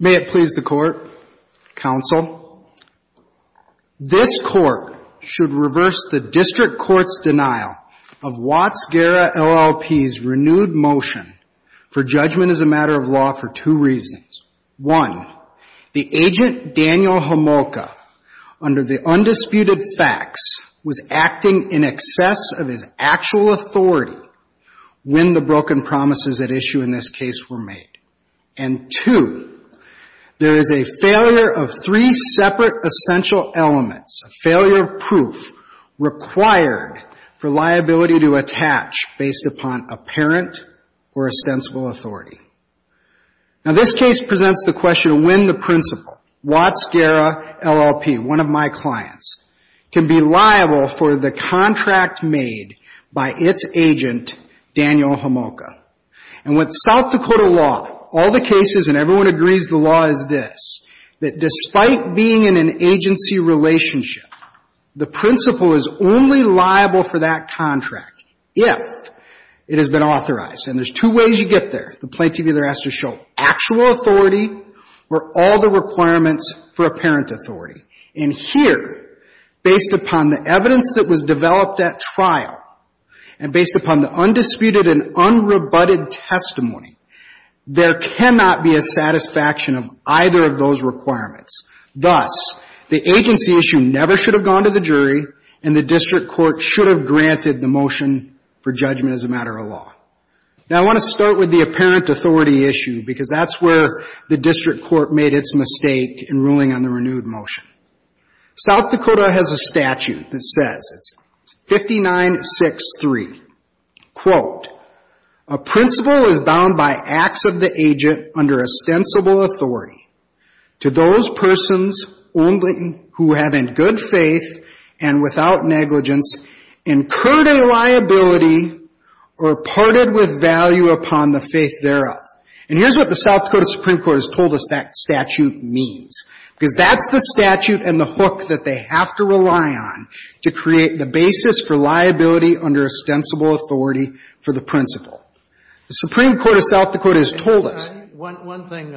May it please the Court, Counsel. This Court should reverse the District Court's denial of Watts Guerra LLP's renewed motion for judgment as a matter of law for two reasons. One, the agent, Daniel Homolka, under the undisputed facts was acting in excess of his actual authority when the broken promises at issue in this case were made. And two, there is a failure of three separate essential elements, a failure of proof required for liability to attach based upon apparent or ostensible authority. Now, this case presents the question of when the principal, Watts Guerra LLP, one of my clients, can be liable for the contract made by its agent, Daniel Homolka. And with South Dakota law, all the cases and everyone agrees the law is this, that despite being in an agency relationship, the principal is only liable for that contract if it has been authorized. And there's two ways you get there. The plaintiff either has to show actual authority or all the requirements for apparent authority. And here, based upon the evidence that was developed at trial and based upon the undisputed and unrebutted testimony, there cannot be a satisfaction of either of those requirements. Thus, the agency issue never should have gone to the jury and the District Court should have granted the motion for judgment as a matter of law. Now, I want to start with the apparent authority issue because that's where the District Court made its mistake in ruling on the renewed motion. South Dakota has a statute that says, it's 59-6-3, quote, a principal is bound by acts of the agent under ostensible authority to those persons only who have in good faith and without negligence incurred a liability or parted with value upon the faith thereof. And here's what the South Dakota Supreme Court has told us that statute means, because that's the statute and the hook that they have to rely on to create the basis for liability under ostensible authority for the principal. The Supreme Court of South Dakota has told us. One thing,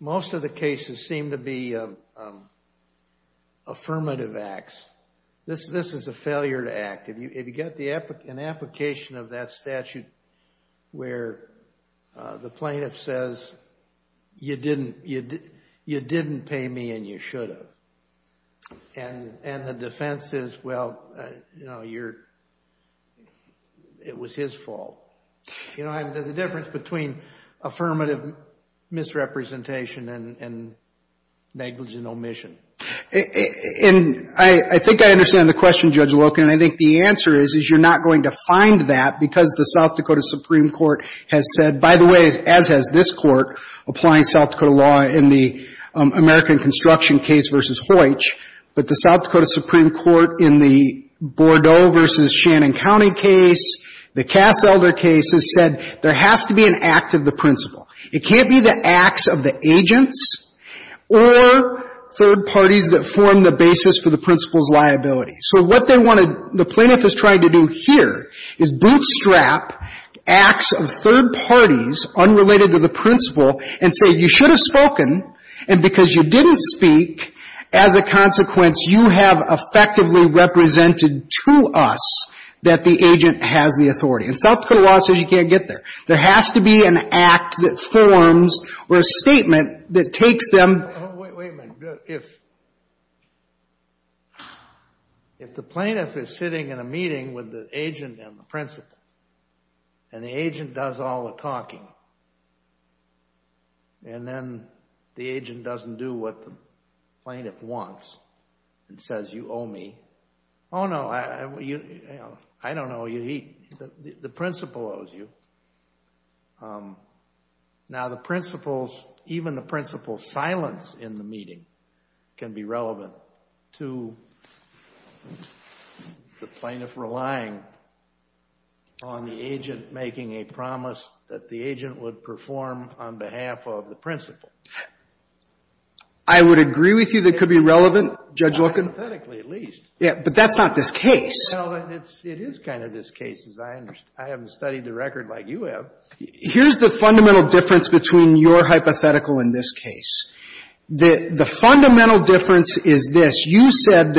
most of the cases seem to be affirmative acts. This is a failure to act. If you get an application of that statute where the plaintiff says, you didn't pay me and you should have, and the defense is, well, it was his fault. You know, the difference between affirmative misrepresentation and negligent omission. And I think I understand the question, Judge Loken, and I think the answer is, is you're not going to find that because the South Dakota Supreme Court has said, by the way, as has this Court applying South Dakota law in the American Construction case versus Hoitch, but the South Dakota Supreme Court in the Bordeaux versus Shannon County case, the Cass Elder case, has said there has to be an act of the principal. It can't be the acts of the agents or third parties that form the basis for the principal's liability. So what they want to, the plaintiff is trying to do here is bootstrap acts of third parties unrelated to the principal and say, you should have spoken, and because you didn't speak, as a consequence, you have effectively represented to us that the agent has the authority. And South Dakota law says you can't get there. There has to be an act that forms or a statement that takes them. Oh, wait a minute. If the plaintiff is sitting in a meeting with the agent and the principal, and the agent does all the talking, and then the agent doesn't do what the plaintiff wants and says, you owe me. Oh, no. I don't owe you. The principal owes you. Now the principal's, even the principal's silence in the meeting can be relevant to the plaintiff relying on the agent making a promise that the agent would perform on behalf of the principal. I would agree with you that it could be relevant, Judge Loken. Aesthetically, at least. But that's not this case. Well, it is kind of this case. I haven't studied the record like you have. Here's the fundamental difference between your hypothetical and this case. The fundamental difference is this. You said,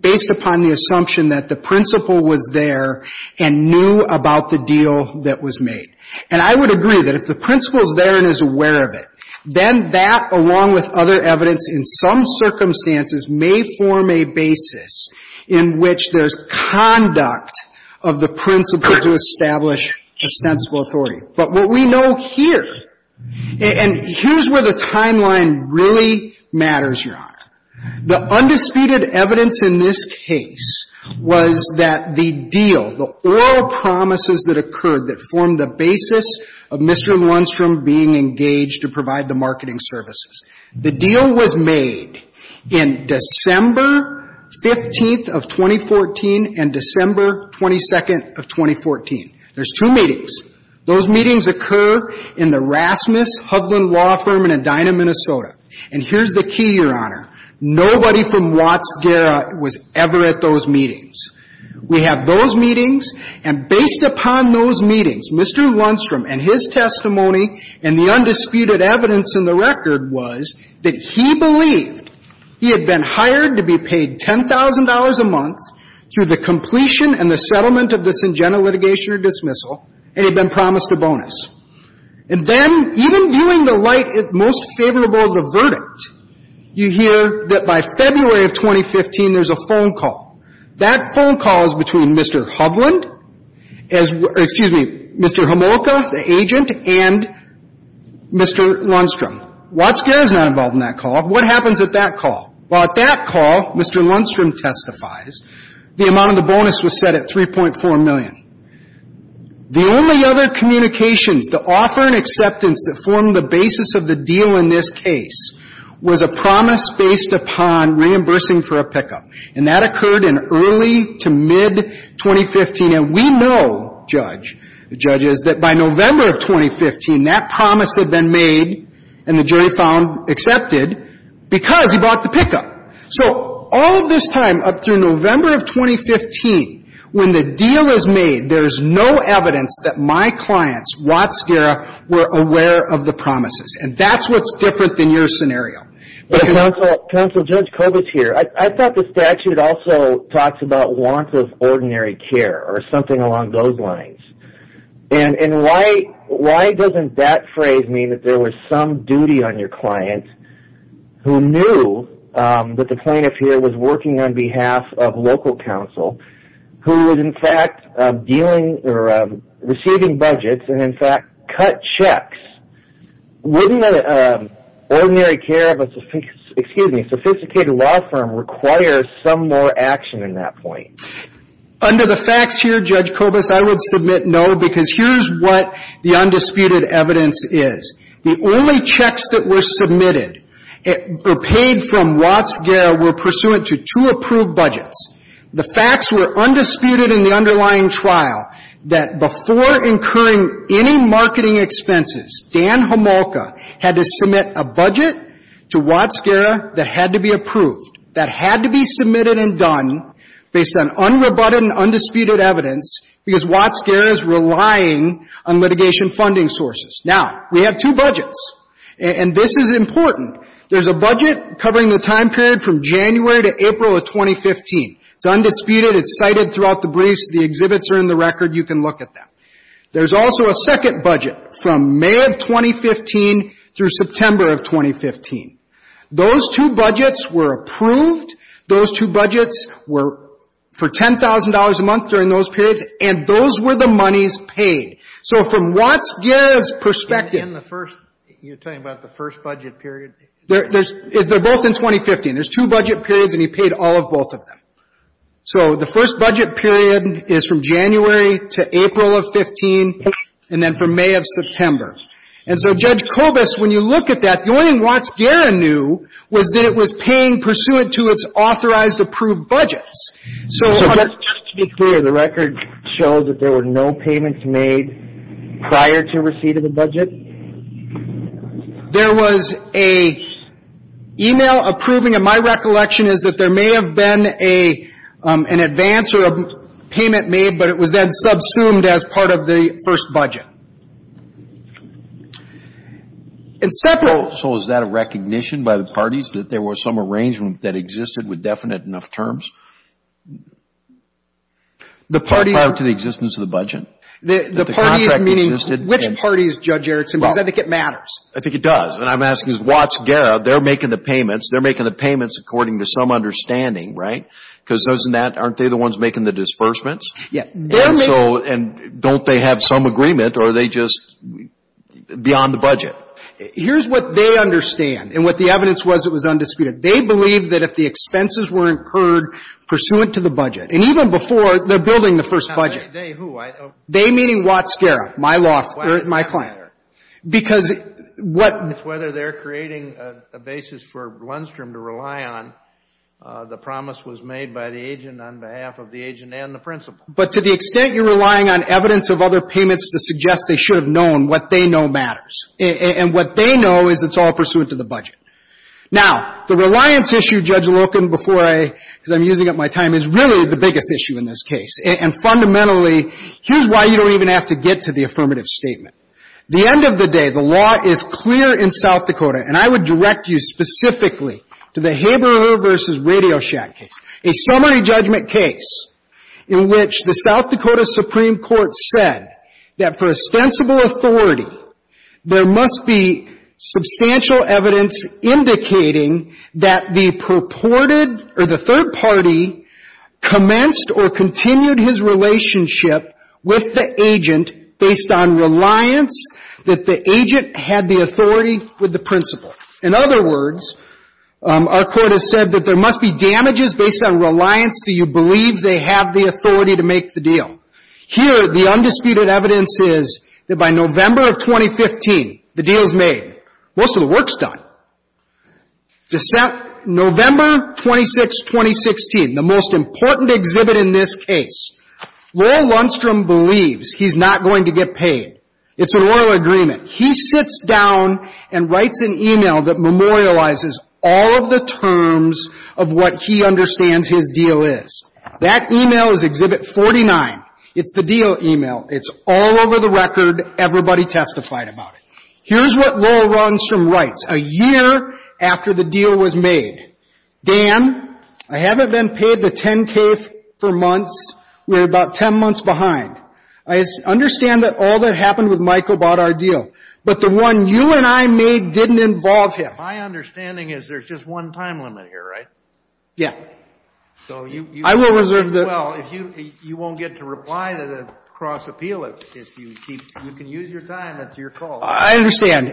based upon the assumption that the principal was there and knew about the deal that was made. And I would agree that if the principal is there and is aware of it, then that, along with other evidence, in some circumstances, may form a basis in which there's conduct of the principal to establish ostensible authority. But what we know here, and here's where the timeline really matters, Your Honor. The undisputed evidence in this case was that the deal, the oral promises that occurred that formed the basis of Mr. Lundstrom being engaged to provide the marketing services. The deal was made in December 15th of 2014 and December 22nd of 2014. There's two meetings. Those meetings occur in the Rasmus Hovland Law Firm in Edina, Minnesota. And here's the key, Your Honor. Nobody from Watts-Guerra was ever at those meetings. We have those meetings. And based upon those meetings, Mr. Lundstrom and his testimony and the undisputed evidence in the record was that he believed he had been hired to be paid $10,000 a month through the completion and the settlement of the Syngenta litigation or dismissal and had been promised a bonus. And then, even viewing the light most favorable of the verdict, you hear that by February of 2015, there's a phone call. That phone call is between Mr. Hovland, excuse me, Mr. Homolka, the agent, and Mr. Lundstrom. Watts-Guerra is not involved in that call. What happens at that call? Well, at that call, Mr. Lundstrom testifies, the amount of the bonus was set at $3.4 million. The only other communications, the offer and acceptance that formed the basis of the deal in this case was a promise based upon reimbursing for a pickup. And that occurred in early to mid-2015. And we know, Judge, the judges, that by November of 2015, that promise had been made and the jury found accepted because he bought the pickup. So, all of this time up through November of 2015, when the deal is made, there's no evidence that my clients, Watts-Guerra, were aware of the promises. And that's what's different than your scenario. Counsel, Judge Kovach here, I thought the statute also talks about warrants of ordinary care or something along those lines. And why doesn't that phrase mean that there was some duty on your client who knew that the plaintiff here was working on behalf of local counsel, who was, in fact, dealing or receiving budgets and, in fact, cut checks? Wouldn't ordinary care of a sophisticated law firm require some more action in that point? Under the facts here, Judge Kovach, I would submit no, because here's what the undisputed evidence is. The only checks that were submitted or paid from Watts-Guerra were pursuant to two approved budgets. The facts were undisputed in the underlying trial that before incurring any marketing expenses, Dan Homolka had to submit a budget to Watts-Guerra that had to be approved, that had to be submitted and done based on unrebutted and undisputed evidence because Watts-Guerra is relying on litigation funding sources. Now, we have two budgets, and this is important. There's a budget covering the time period from January to April of 2015. It's undisputed. It's cited throughout the briefs. The exhibits are in the record. You can look at them. There's also a second budget from May of 2015 through September of 2015. Those two budgets were approved. Those two budgets were for $10,000 a month during those periods, and those were the monies paid. So, from Watts-Guerra's perspective... And in the first... You're talking about the first budget period? There's... They're both in 2015. There's two budget periods, and he paid all of both of them. So, the first budget period is from January to April of 15, and then from May of September. And so, Judge Kovas, when you look at that, the only thing Watts-Guerra knew was that it was paying pursuant to its authorized approved budgets. So... So, just to be clear, the record shows that there were no payments made prior to receipt of the budget? There was a e-mail approving, and my recollection is that there may have been an advance or a payment made, but it was then subsumed as part of the first budget. And separate... So, is that a recognition by the parties that there was some arrangement that existed with definite enough terms? The parties... Prior to the existence of the budget? That the contract existed? The parties, meaning which parties, Judge Erickson, because I think it matters. I think it does. And I'm asking is Watts-Guerra, they're making the payments. They're making the payments according to some understanding, right? Because those in that, aren't they the ones making the disbursements? Yeah. And so, and don't they have some agreement, or are they just beyond the budget? Here's what they understand, and what the evidence was that was undisputed. They believe that if the expenses were incurred pursuant to the budget, and even before, they're building the first budget. Now, they who? They, meaning Watts-Guerra, my law, my client. Because what... It's whether they're creating a basis for Blundstrom to rely on. The promise was made by the agent on behalf of the agent and the principal. But to the extent you're relying on evidence of other payments to suggest they should have known, what they know matters. And what they know is it's all pursuant to the budget. Now, the reliance issue, Judge Loken, before I, because I'm using up my time, is really the biggest issue in this case. And fundamentally, here's why you don't even have to get to the affirmative statement. The end of the day, the law is clear in South Dakota, and I would direct you specifically to the Haberer v. Radio Shack case, a summary judgment case in which the South Dakota Supreme Court said that for ostensible authority, there must be substantial evidence indicating that the purported, or the third party, commenced or continued his relationship with the agent based on reliance that the agent had the authority with the principal. In other words, our court has said that there must be damages based on reliance that you believe they have the authority to make the deal. Here, the undisputed evidence is that by November of 2015, the deal's made. Most of the work's done. December, November 26, 2016, the most important exhibit in this case, Lowell Lundstrom believes he's not going to get paid. It's an oral agreement. He sits down and writes an email that memorializes all of the terms of what he understands his deal is. That email is Exhibit 49. It's the deal email. It's all over the record. Everybody testified about it. Here's what Lowell Lundstrom writes, a year after the deal was made, Dan, I haven't been paid the 10K for months, we're about 10 months behind. I understand that all that happened with Michael about our deal, but the one you and I made didn't involve him. My understanding is there's just one time limit here, right? Yeah. So you won't get to reply to the cross appeal if you keep, you can use your time, that's your call. I understand.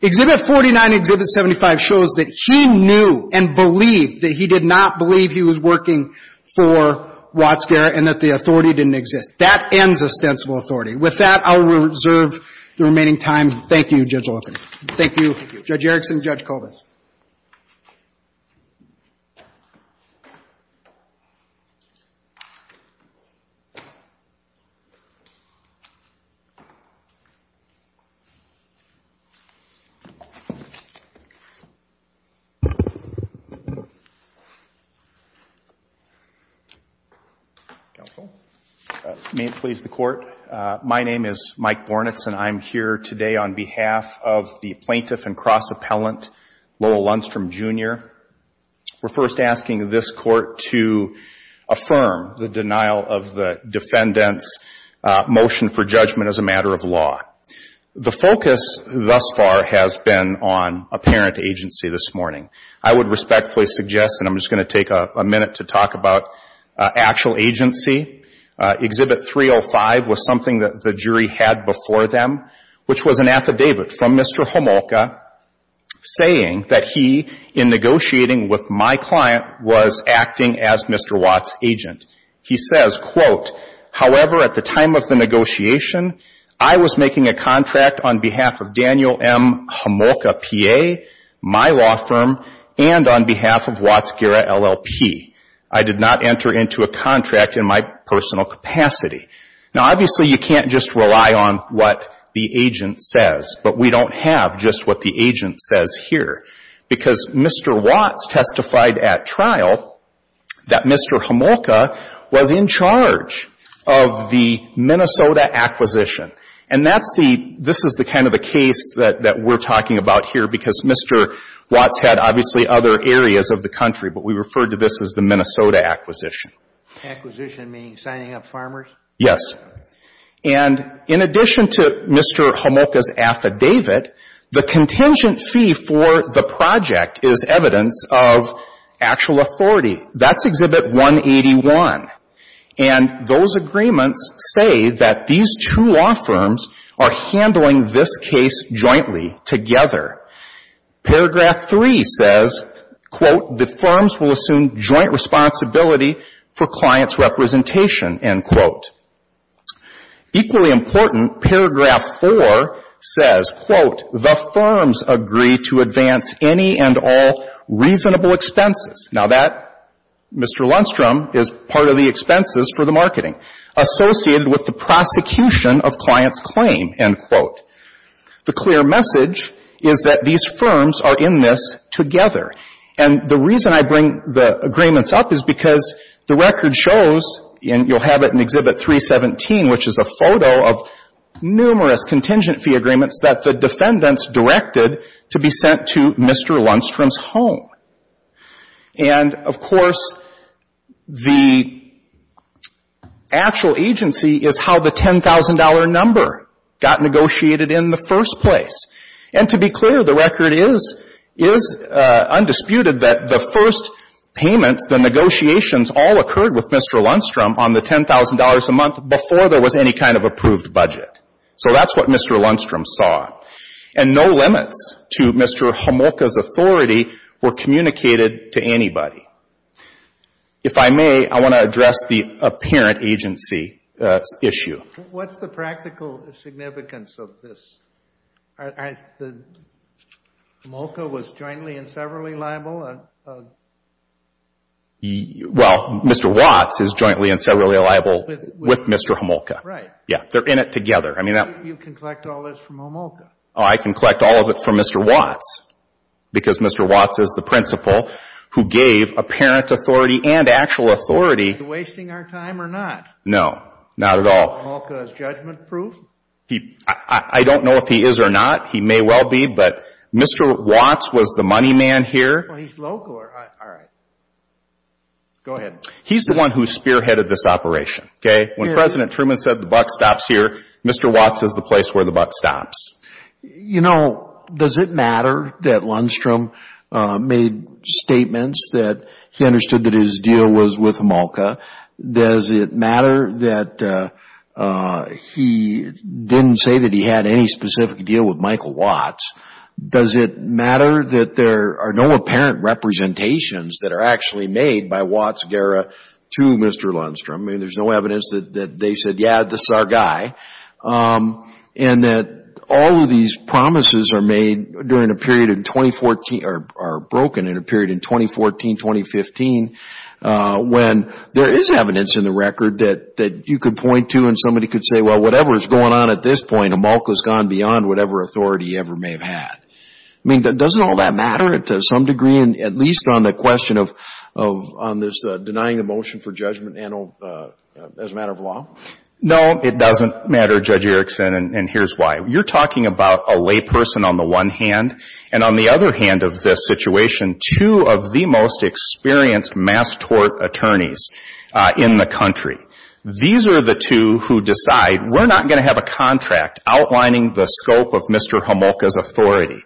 Exhibit 49, Exhibit 75 shows that he knew and believed that he did not believe he was working for Watts Garrett and that the authority didn't exist. That ends ostensible authority. With that, I'll reserve the remaining time. Thank you, Judge Olken. Thank you. Thank you. Judge Erickson, Judge Kovas. Counsel? May it please the Court. My name is Mike Bornitz and I'm here today on behalf of the plaintiff and cross appellant Lowell Lundstrom, Jr. We're first asking this Court to affirm the denial of the defendant's motion for judgment as a matter of law. The focus thus far has been on apparent agency this morning. I would respectfully suggest, and I'm just going to take a minute to talk about actual agency. Exhibit 305 was something that the jury had before them, which was an affidavit from Mr. Homolka saying that he, in negotiating with my client, was acting as Mr. Watts' agent. He says, quote, however, at the time of the negotiation, I was making a contract on behalf of Daniel M. Homolka, PA, my law firm, and on behalf of Watts Garrett, LLP. I did not enter into a contract in my personal capacity. Now, obviously, you can't just rely on what the agent says, but we don't have just what the agent says here because Mr. Watts testified at trial that Mr. Homolka was in charge of the Minnesota acquisition. And that's the, this is the kind of the case that we're talking about here because Mr. Homolka referred to this as the Minnesota acquisition. Acquisition meaning signing up farmers? Yes. And in addition to Mr. Homolka's affidavit, the contingent fee for the project is evidence of actual authority. That's Exhibit 181. And those agreements say that these two law firms are handling this case jointly, together. Paragraph 3 says, quote, the firms will assume joint responsibility for client's representation, end quote. Equally important, paragraph 4 says, quote, the firms agree to advance any and all reasonable expenses. Now, that, Mr. Lundstrom, is part of the expenses for the marketing associated with the prosecution of client's claim, end quote. The clear message is that these firms are in this together. And the reason I bring the agreements up is because the record shows, and you'll have it in Exhibit 317, which is a photo of numerous contingent fee agreements that the defendants directed to be sent to Mr. Lundstrom's home. And, of course, the actual agency is how the $10,000 number got negotiated in the first place. And to be clear, the record is undisputed that the first payments, the negotiations, all occurred with Mr. Lundstrom on the $10,000 a month before there was any kind of approved budget. So that's what Mr. Lundstrom saw. And no limits to Mr. Homolka's authority were communicated to anybody. If I may, I want to address the apparent agency issue. What's the practical significance of this? Homolka was jointly and severally liable? Well, Mr. Watts is jointly and severally liable with Mr. Homolka. Right. Yeah. They're in it together. You can collect all this from Homolka. Oh, I can collect all of it from Mr. Watts, because Mr. Watts is the principal who gave apparent authority and actual authority. Is he wasting our time or not? No, not at all. Is Homolka's judgment proof? I don't know if he is or not. He may well be. But Mr. Watts was the money man here. Well, he's local, all right. Go ahead. He's the one who spearheaded this operation, okay? When President Truman said the buck stops here, Mr. Watts is the place where the buck stops. You know, does it matter that Lundstrom made statements that he understood that his deal was with Homolka? Does it matter that he didn't say that he had any specific deal with Michael Watts? Does it matter that there are no apparent representations that are actually made by Watts-Guerra to Mr. Lundstrom? I mean, there's no evidence that they said, yeah, this is our guy. And that all of these promises are broken in a period in 2014, 2015, when there is evidence in the record that you could point to and somebody could say, well, whatever is going on at this point, Homolka's gone beyond whatever authority he ever may have had. I mean, doesn't all that matter to some degree, at least on the question of denying the motion for judgment as a matter of law? No, it doesn't matter, Judge Erickson, and here's why. You're talking about a layperson on the one hand, and on the other hand of this situation, two of the most experienced mass tort attorneys in the country. These are the two who decide, we're not going to have a contract outlining the scope of Mr. Homolka's authority.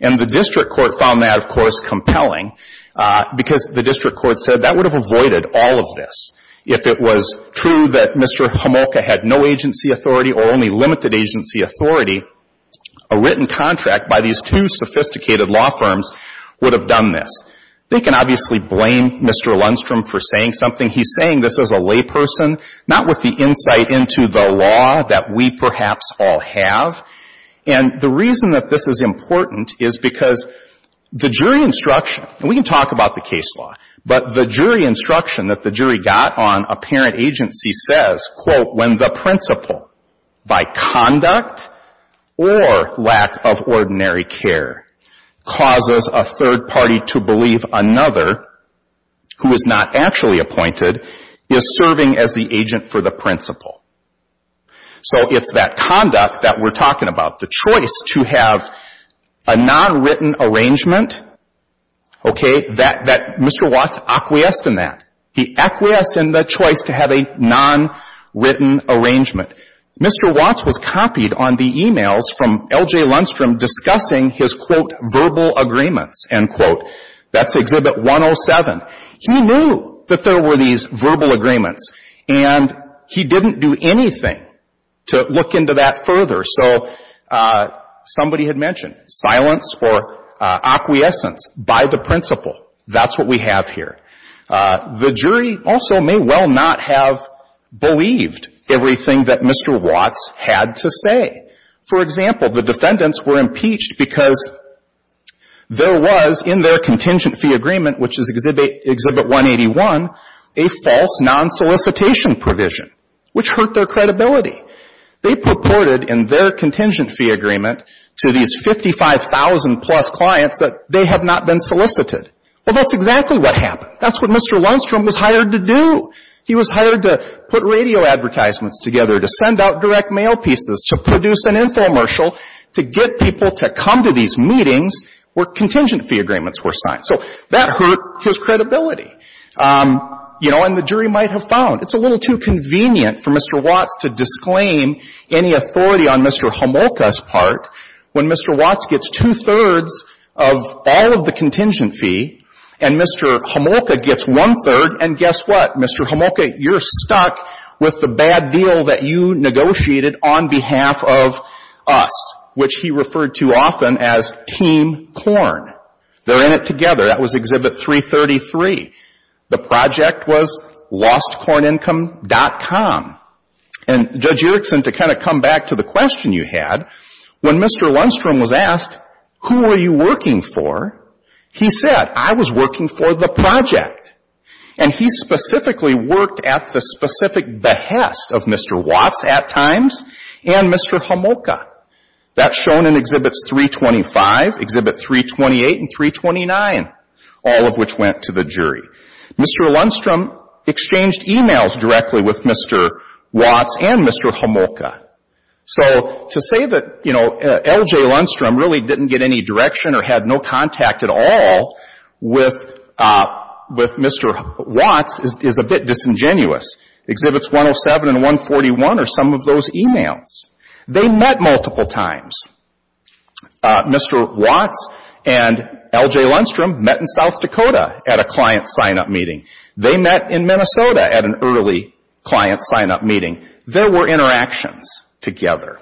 And the district court found that, of course, compelling, because the district court said that would have avoided all of this. If it was true that Mr. Homolka had no agency authority or only limited agency authority, a written contract by these two sophisticated law firms would have done this. They can obviously blame Mr. Lundstrom for saying something. He's saying this as a layperson, not with the insight into the law that we perhaps all have. And the reason that this is important is because the jury instruction, and we can talk about the case law, but the jury instruction that the jury got on apparent agency says, quote, when the principal, by conduct or lack of ordinary care, causes a third party to believe another who is not actually appointed is serving as the agent for the principal. So it's that conduct that we're talking about, the choice to have a nonwritten arrangement, okay, that Mr. Watts acquiesced in that. He acquiesced in the choice to have a nonwritten arrangement. Mr. Watts was copied on the e-mails from L.J. Lundstrom discussing his, quote, verbal agreements, end quote. That's Exhibit 107. He knew that there were these verbal agreements, and he didn't do anything to look into that further. So somebody had mentioned silence or acquiescence by the principal. That's what we have here. The jury also may well not have believed everything that Mr. Watts had to say. For example, the defendants were impeached because there was in their contingent fee agreement, which is Exhibit 181, a false non-solicitation provision, which hurt their credibility. They purported in their contingent fee agreement to these 55,000-plus clients that they had not been solicited. Well, that's exactly what happened. That's what Mr. Lundstrom was hired to do. He was hired to put radio advertisements together, to send out direct mail pieces, to produce an infomercial, to get people to come to these meetings where contingent fee agreements were signed. So that hurt his credibility, you know, and the jury might have found it's a little too authority on Mr. Homolka's part when Mr. Watts gets two-thirds of all of the contingent fee and Mr. Homolka gets one-third. And guess what? Mr. Homolka, you're stuck with the bad deal that you negotiated on behalf of us, which he referred to often as Team Corn. They're in it together. That was Exhibit 333. The project was LostCornIncome.com. And Judge Erickson, to kind of come back to the question you had, when Mr. Lundstrom was asked, who were you working for, he said, I was working for the project. And he specifically worked at the specific behest of Mr. Watts at times and Mr. Homolka. That's shown in Exhibits 325, Exhibit 328, and 329, all of which went to the jury. Mr. Lundstrom exchanged emails directly with Mr. Watts and Mr. Homolka. So to say that L.J. Lundstrom really didn't get any direction or had no contact at all with Mr. Watts is a bit disingenuous. Exhibits 107 and 141 are some of those emails. They met multiple times. Mr. Watts and L.J. Lundstrom met in South Dakota at a client sign-up meeting. They met in Minnesota at an early client sign-up meeting. There were interactions together.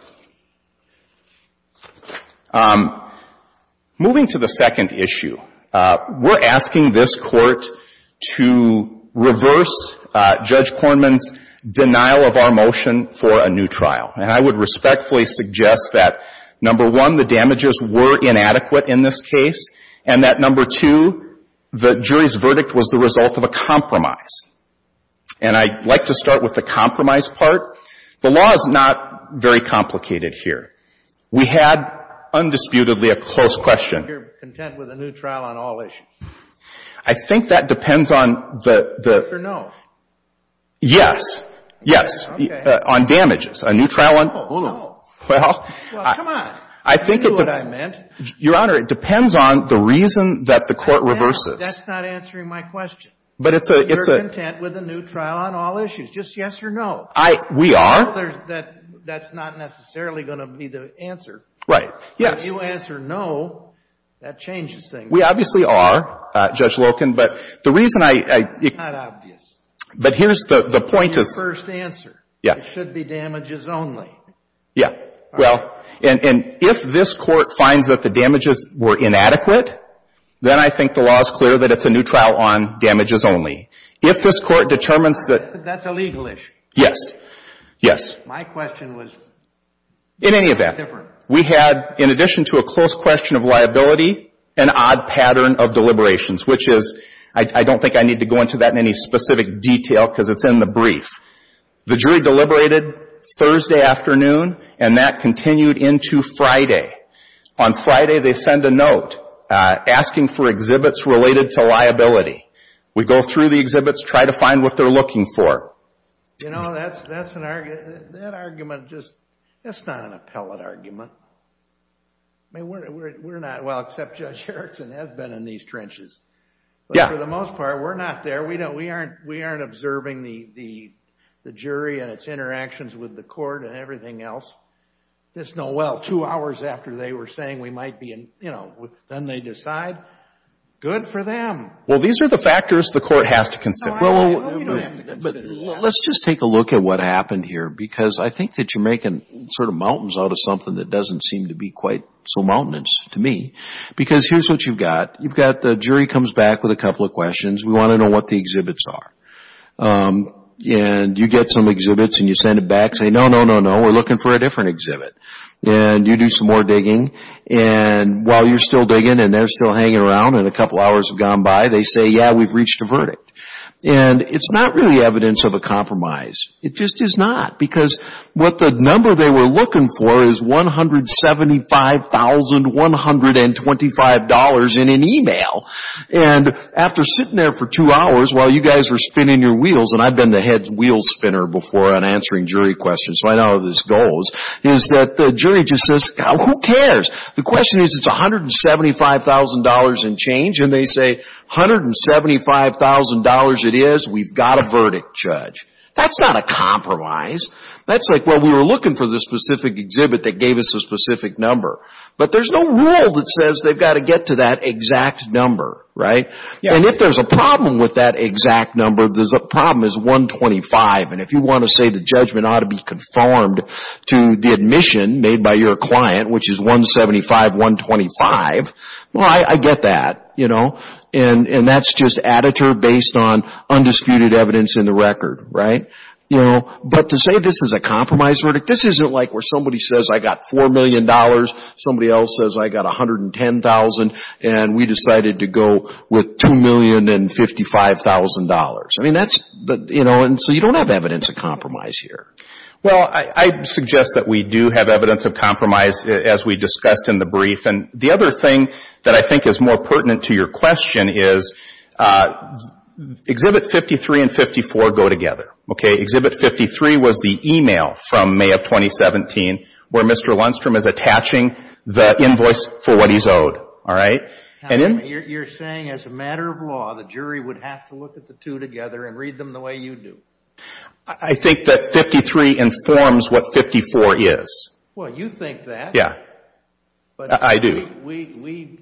Moving to the second issue, we're asking this Court to reverse Judge Kornman's denial of our motion for a new trial. And I would respectfully suggest that, number one, the damages were inadequate in this case, and that, number two, the jury's verdict was the result of a compromise. And I'd like to start with the compromise part. The law is not very complicated here. We had, undisputedly, a close question. You're content with a new trial on all issues? I think that depends on the... Yes or no? Yes. Yes. Okay. On damages. A new trial on... Hold on. Well... Well, come on. I knew what I meant. Your Honor, it depends on the reason that the Court reverses. I know, but that's not answering my question. But it's a... You're content with a new trial on all issues? Just yes or no? I... We are. Well, that's not necessarily going to be the answer. Right. Yes. If you answer no, that changes things. We obviously are, Judge Loken, but the reason I... It's not obvious. But here's the point of... Your first answer. Yeah. It should be damages only. Yeah. Well, and if this Court finds that the damages were inadequate, then I think the law is clear that it's a new trial on damages only. If this Court determines that... That's a legal issue. Yes. Yes. My question was... In any event, we had, in addition to a close question of liability, an odd pattern of deliberations, which is... I don't think I need to go into that in any specific detail, because it's in the brief. The jury deliberated Thursday afternoon, and that continued into Friday. On Friday, they send a note asking for exhibits related to liability. We go through the exhibits, try to find what they're looking for. You know, that's an argument... That argument just... That's not an appellate argument. I mean, we're not... Well, except Judge Erickson has been in these trenches. Yeah. But for the most part, we're not there. We aren't observing the jury and its interactions with the court and everything else. This Noel, two hours after they were saying we might be in... You know, then they decide. Good for them. Well, these are the factors the Court has to consider. Well, we don't have to consider that. Let's just take a look at what happened here, because I think that you're making sort of something that doesn't seem to be quite so mountainous to me, because here's what you've got. You've got... The jury comes back with a couple of questions. We want to know what the exhibits are. And you get some exhibits, and you send it back saying, no, no, no, no, we're looking for a different exhibit. And you do some more digging, and while you're still digging and they're still hanging around and a couple hours have gone by, they say, yeah, we've reached a verdict. And it's not really evidence of a compromise. It just is not. Because what the number they were looking for is $175,125 in an email. And after sitting there for two hours while you guys were spinning your wheels, and I've been the head wheel spinner before on answering jury questions, so I know how this goes, is that the jury just says, who cares? The question is, it's $175,000 and change, and they say, $175,000 it is, we've got a verdict, Judge. That's not a compromise. That's like, well, we were looking for the specific exhibit that gave us a specific number. But there's no rule that says they've got to get to that exact number, right? And if there's a problem with that exact number, the problem is $125,000. And if you want to say the judgment ought to be conformed to the admission made by your client, which is $175,000, $125,000, well, I get that. And that's just additive based on undisputed evidence in the record, right? But to say this is a compromise verdict, this isn't like where somebody says, I got $4,000,000, somebody else says, I got $110,000, and we decided to go with $2,055,000. I mean, that's, you know, and so you don't have evidence of compromise here. Well, I suggest that we do have evidence of compromise, as we discussed in the brief. The other thing that I think is more pertinent to your question is Exhibit 53 and 54 go together. Okay? Exhibit 53 was the email from May of 2017, where Mr. Lundstrom is attaching the invoice for what he's owed. All right? You're saying, as a matter of law, the jury would have to look at the two together and read them the way you do? I think that 53 informs what 54 is. Well, you think that. Yeah. I do. But we, we,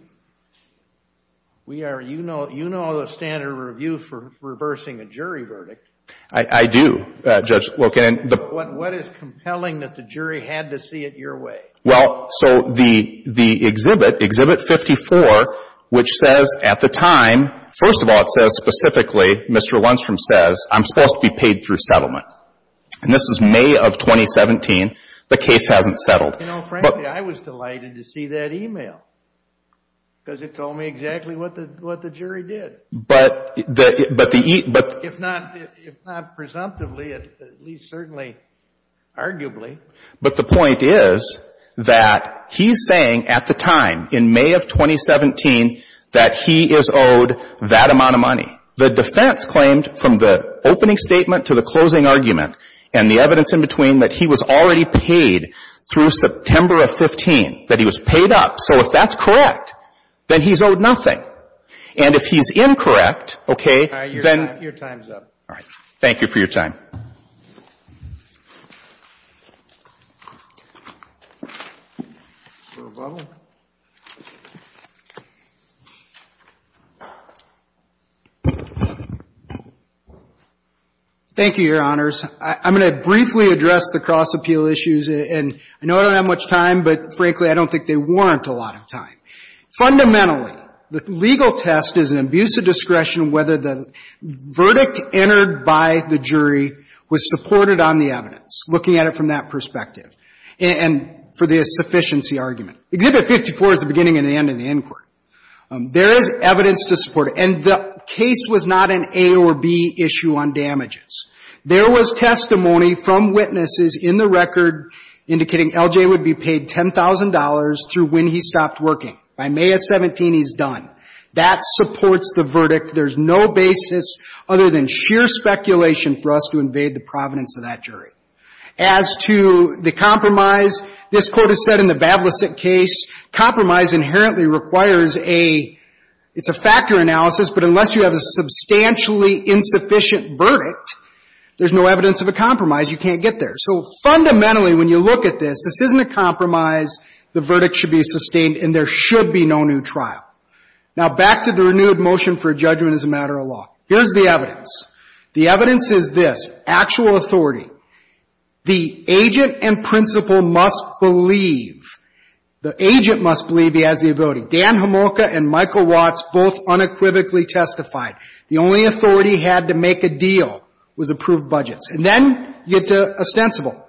we are, you know, you know the standard review for reversing a jury verdict. I do, Judge Loken. What is compelling that the jury had to see it your way? Well, so the, the exhibit, Exhibit 54, which says at the time, first of all, it says specifically, Mr. Lundstrom says, I'm supposed to be paid through settlement. And this is May of 2017. The case hasn't settled. You know, frankly, I was delighted to see that email, because it told me exactly what the, what the jury did. But the, but the, but the, if not, if not presumptively, at least certainly arguably. But the point is that he's saying at the time, in May of 2017, that he is owed that amount of money. The defense claimed from the opening statement to the closing argument, and the evidence in between, that he was already paid through September of 15. That he was paid up. So if that's correct, then he's owed nothing. And if he's incorrect, okay, then. Your time's up. All right. Thank you for your time. Thank you, Your Honors. I'm going to briefly address the cross-appeal issues, and I know I don't have much time, but frankly, I don't think they warrant a lot of time. Fundamentally, the legal test is an abuse of discretion whether the verdict entered by the jury was supported on the evidence, looking at it from that perspective. And for the sufficiency argument. Exhibit 54 is the beginning and the end of the inquiry. There is evidence to support it. And the case was not an A or B issue on damages. There was testimony from witnesses in the record indicating L.J. would be paid $10,000 through when he stopped working. By May of 17, he's done. That supports the verdict. There's no basis other than sheer speculation for us to invade the provenance of that jury. As to the compromise, this court has said in the Bablissett case, compromise inherently requires a, it's a factor analysis, but unless you have a substantially insufficient verdict, there's no evidence of a compromise. You can't get there. So fundamentally, when you look at this, this isn't a compromise. The verdict should be sustained, and there should be no new trial. Now back to the renewed motion for judgment as a matter of law. Here's the evidence. The evidence is this, actual authority. The agent and principal must believe. The agent must believe he has the ability. Dan Homolka and Michael Watts both unequivocally testified. The only authority he had to make a deal was approved budgets. And then you get to ostensible.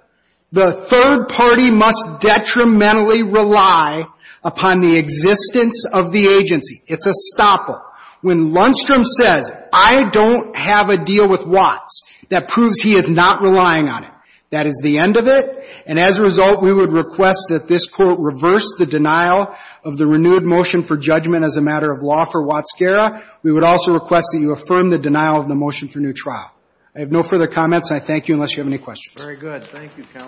The third party must detrimentally rely upon the existence of the agency. It's a stopper. When Lundstrom says, I don't have a deal with Watts, that proves he is not relying on it. That is the end of it. And as a result, we would request that this Court reverse the denial of the renewed motion for judgment as a matter of law for Watts-Guerra. We would also request that you affirm the denial of the motion for new trial. I have no further comments, and I thank you, unless you have any questions. Very good. Thank you, counsel.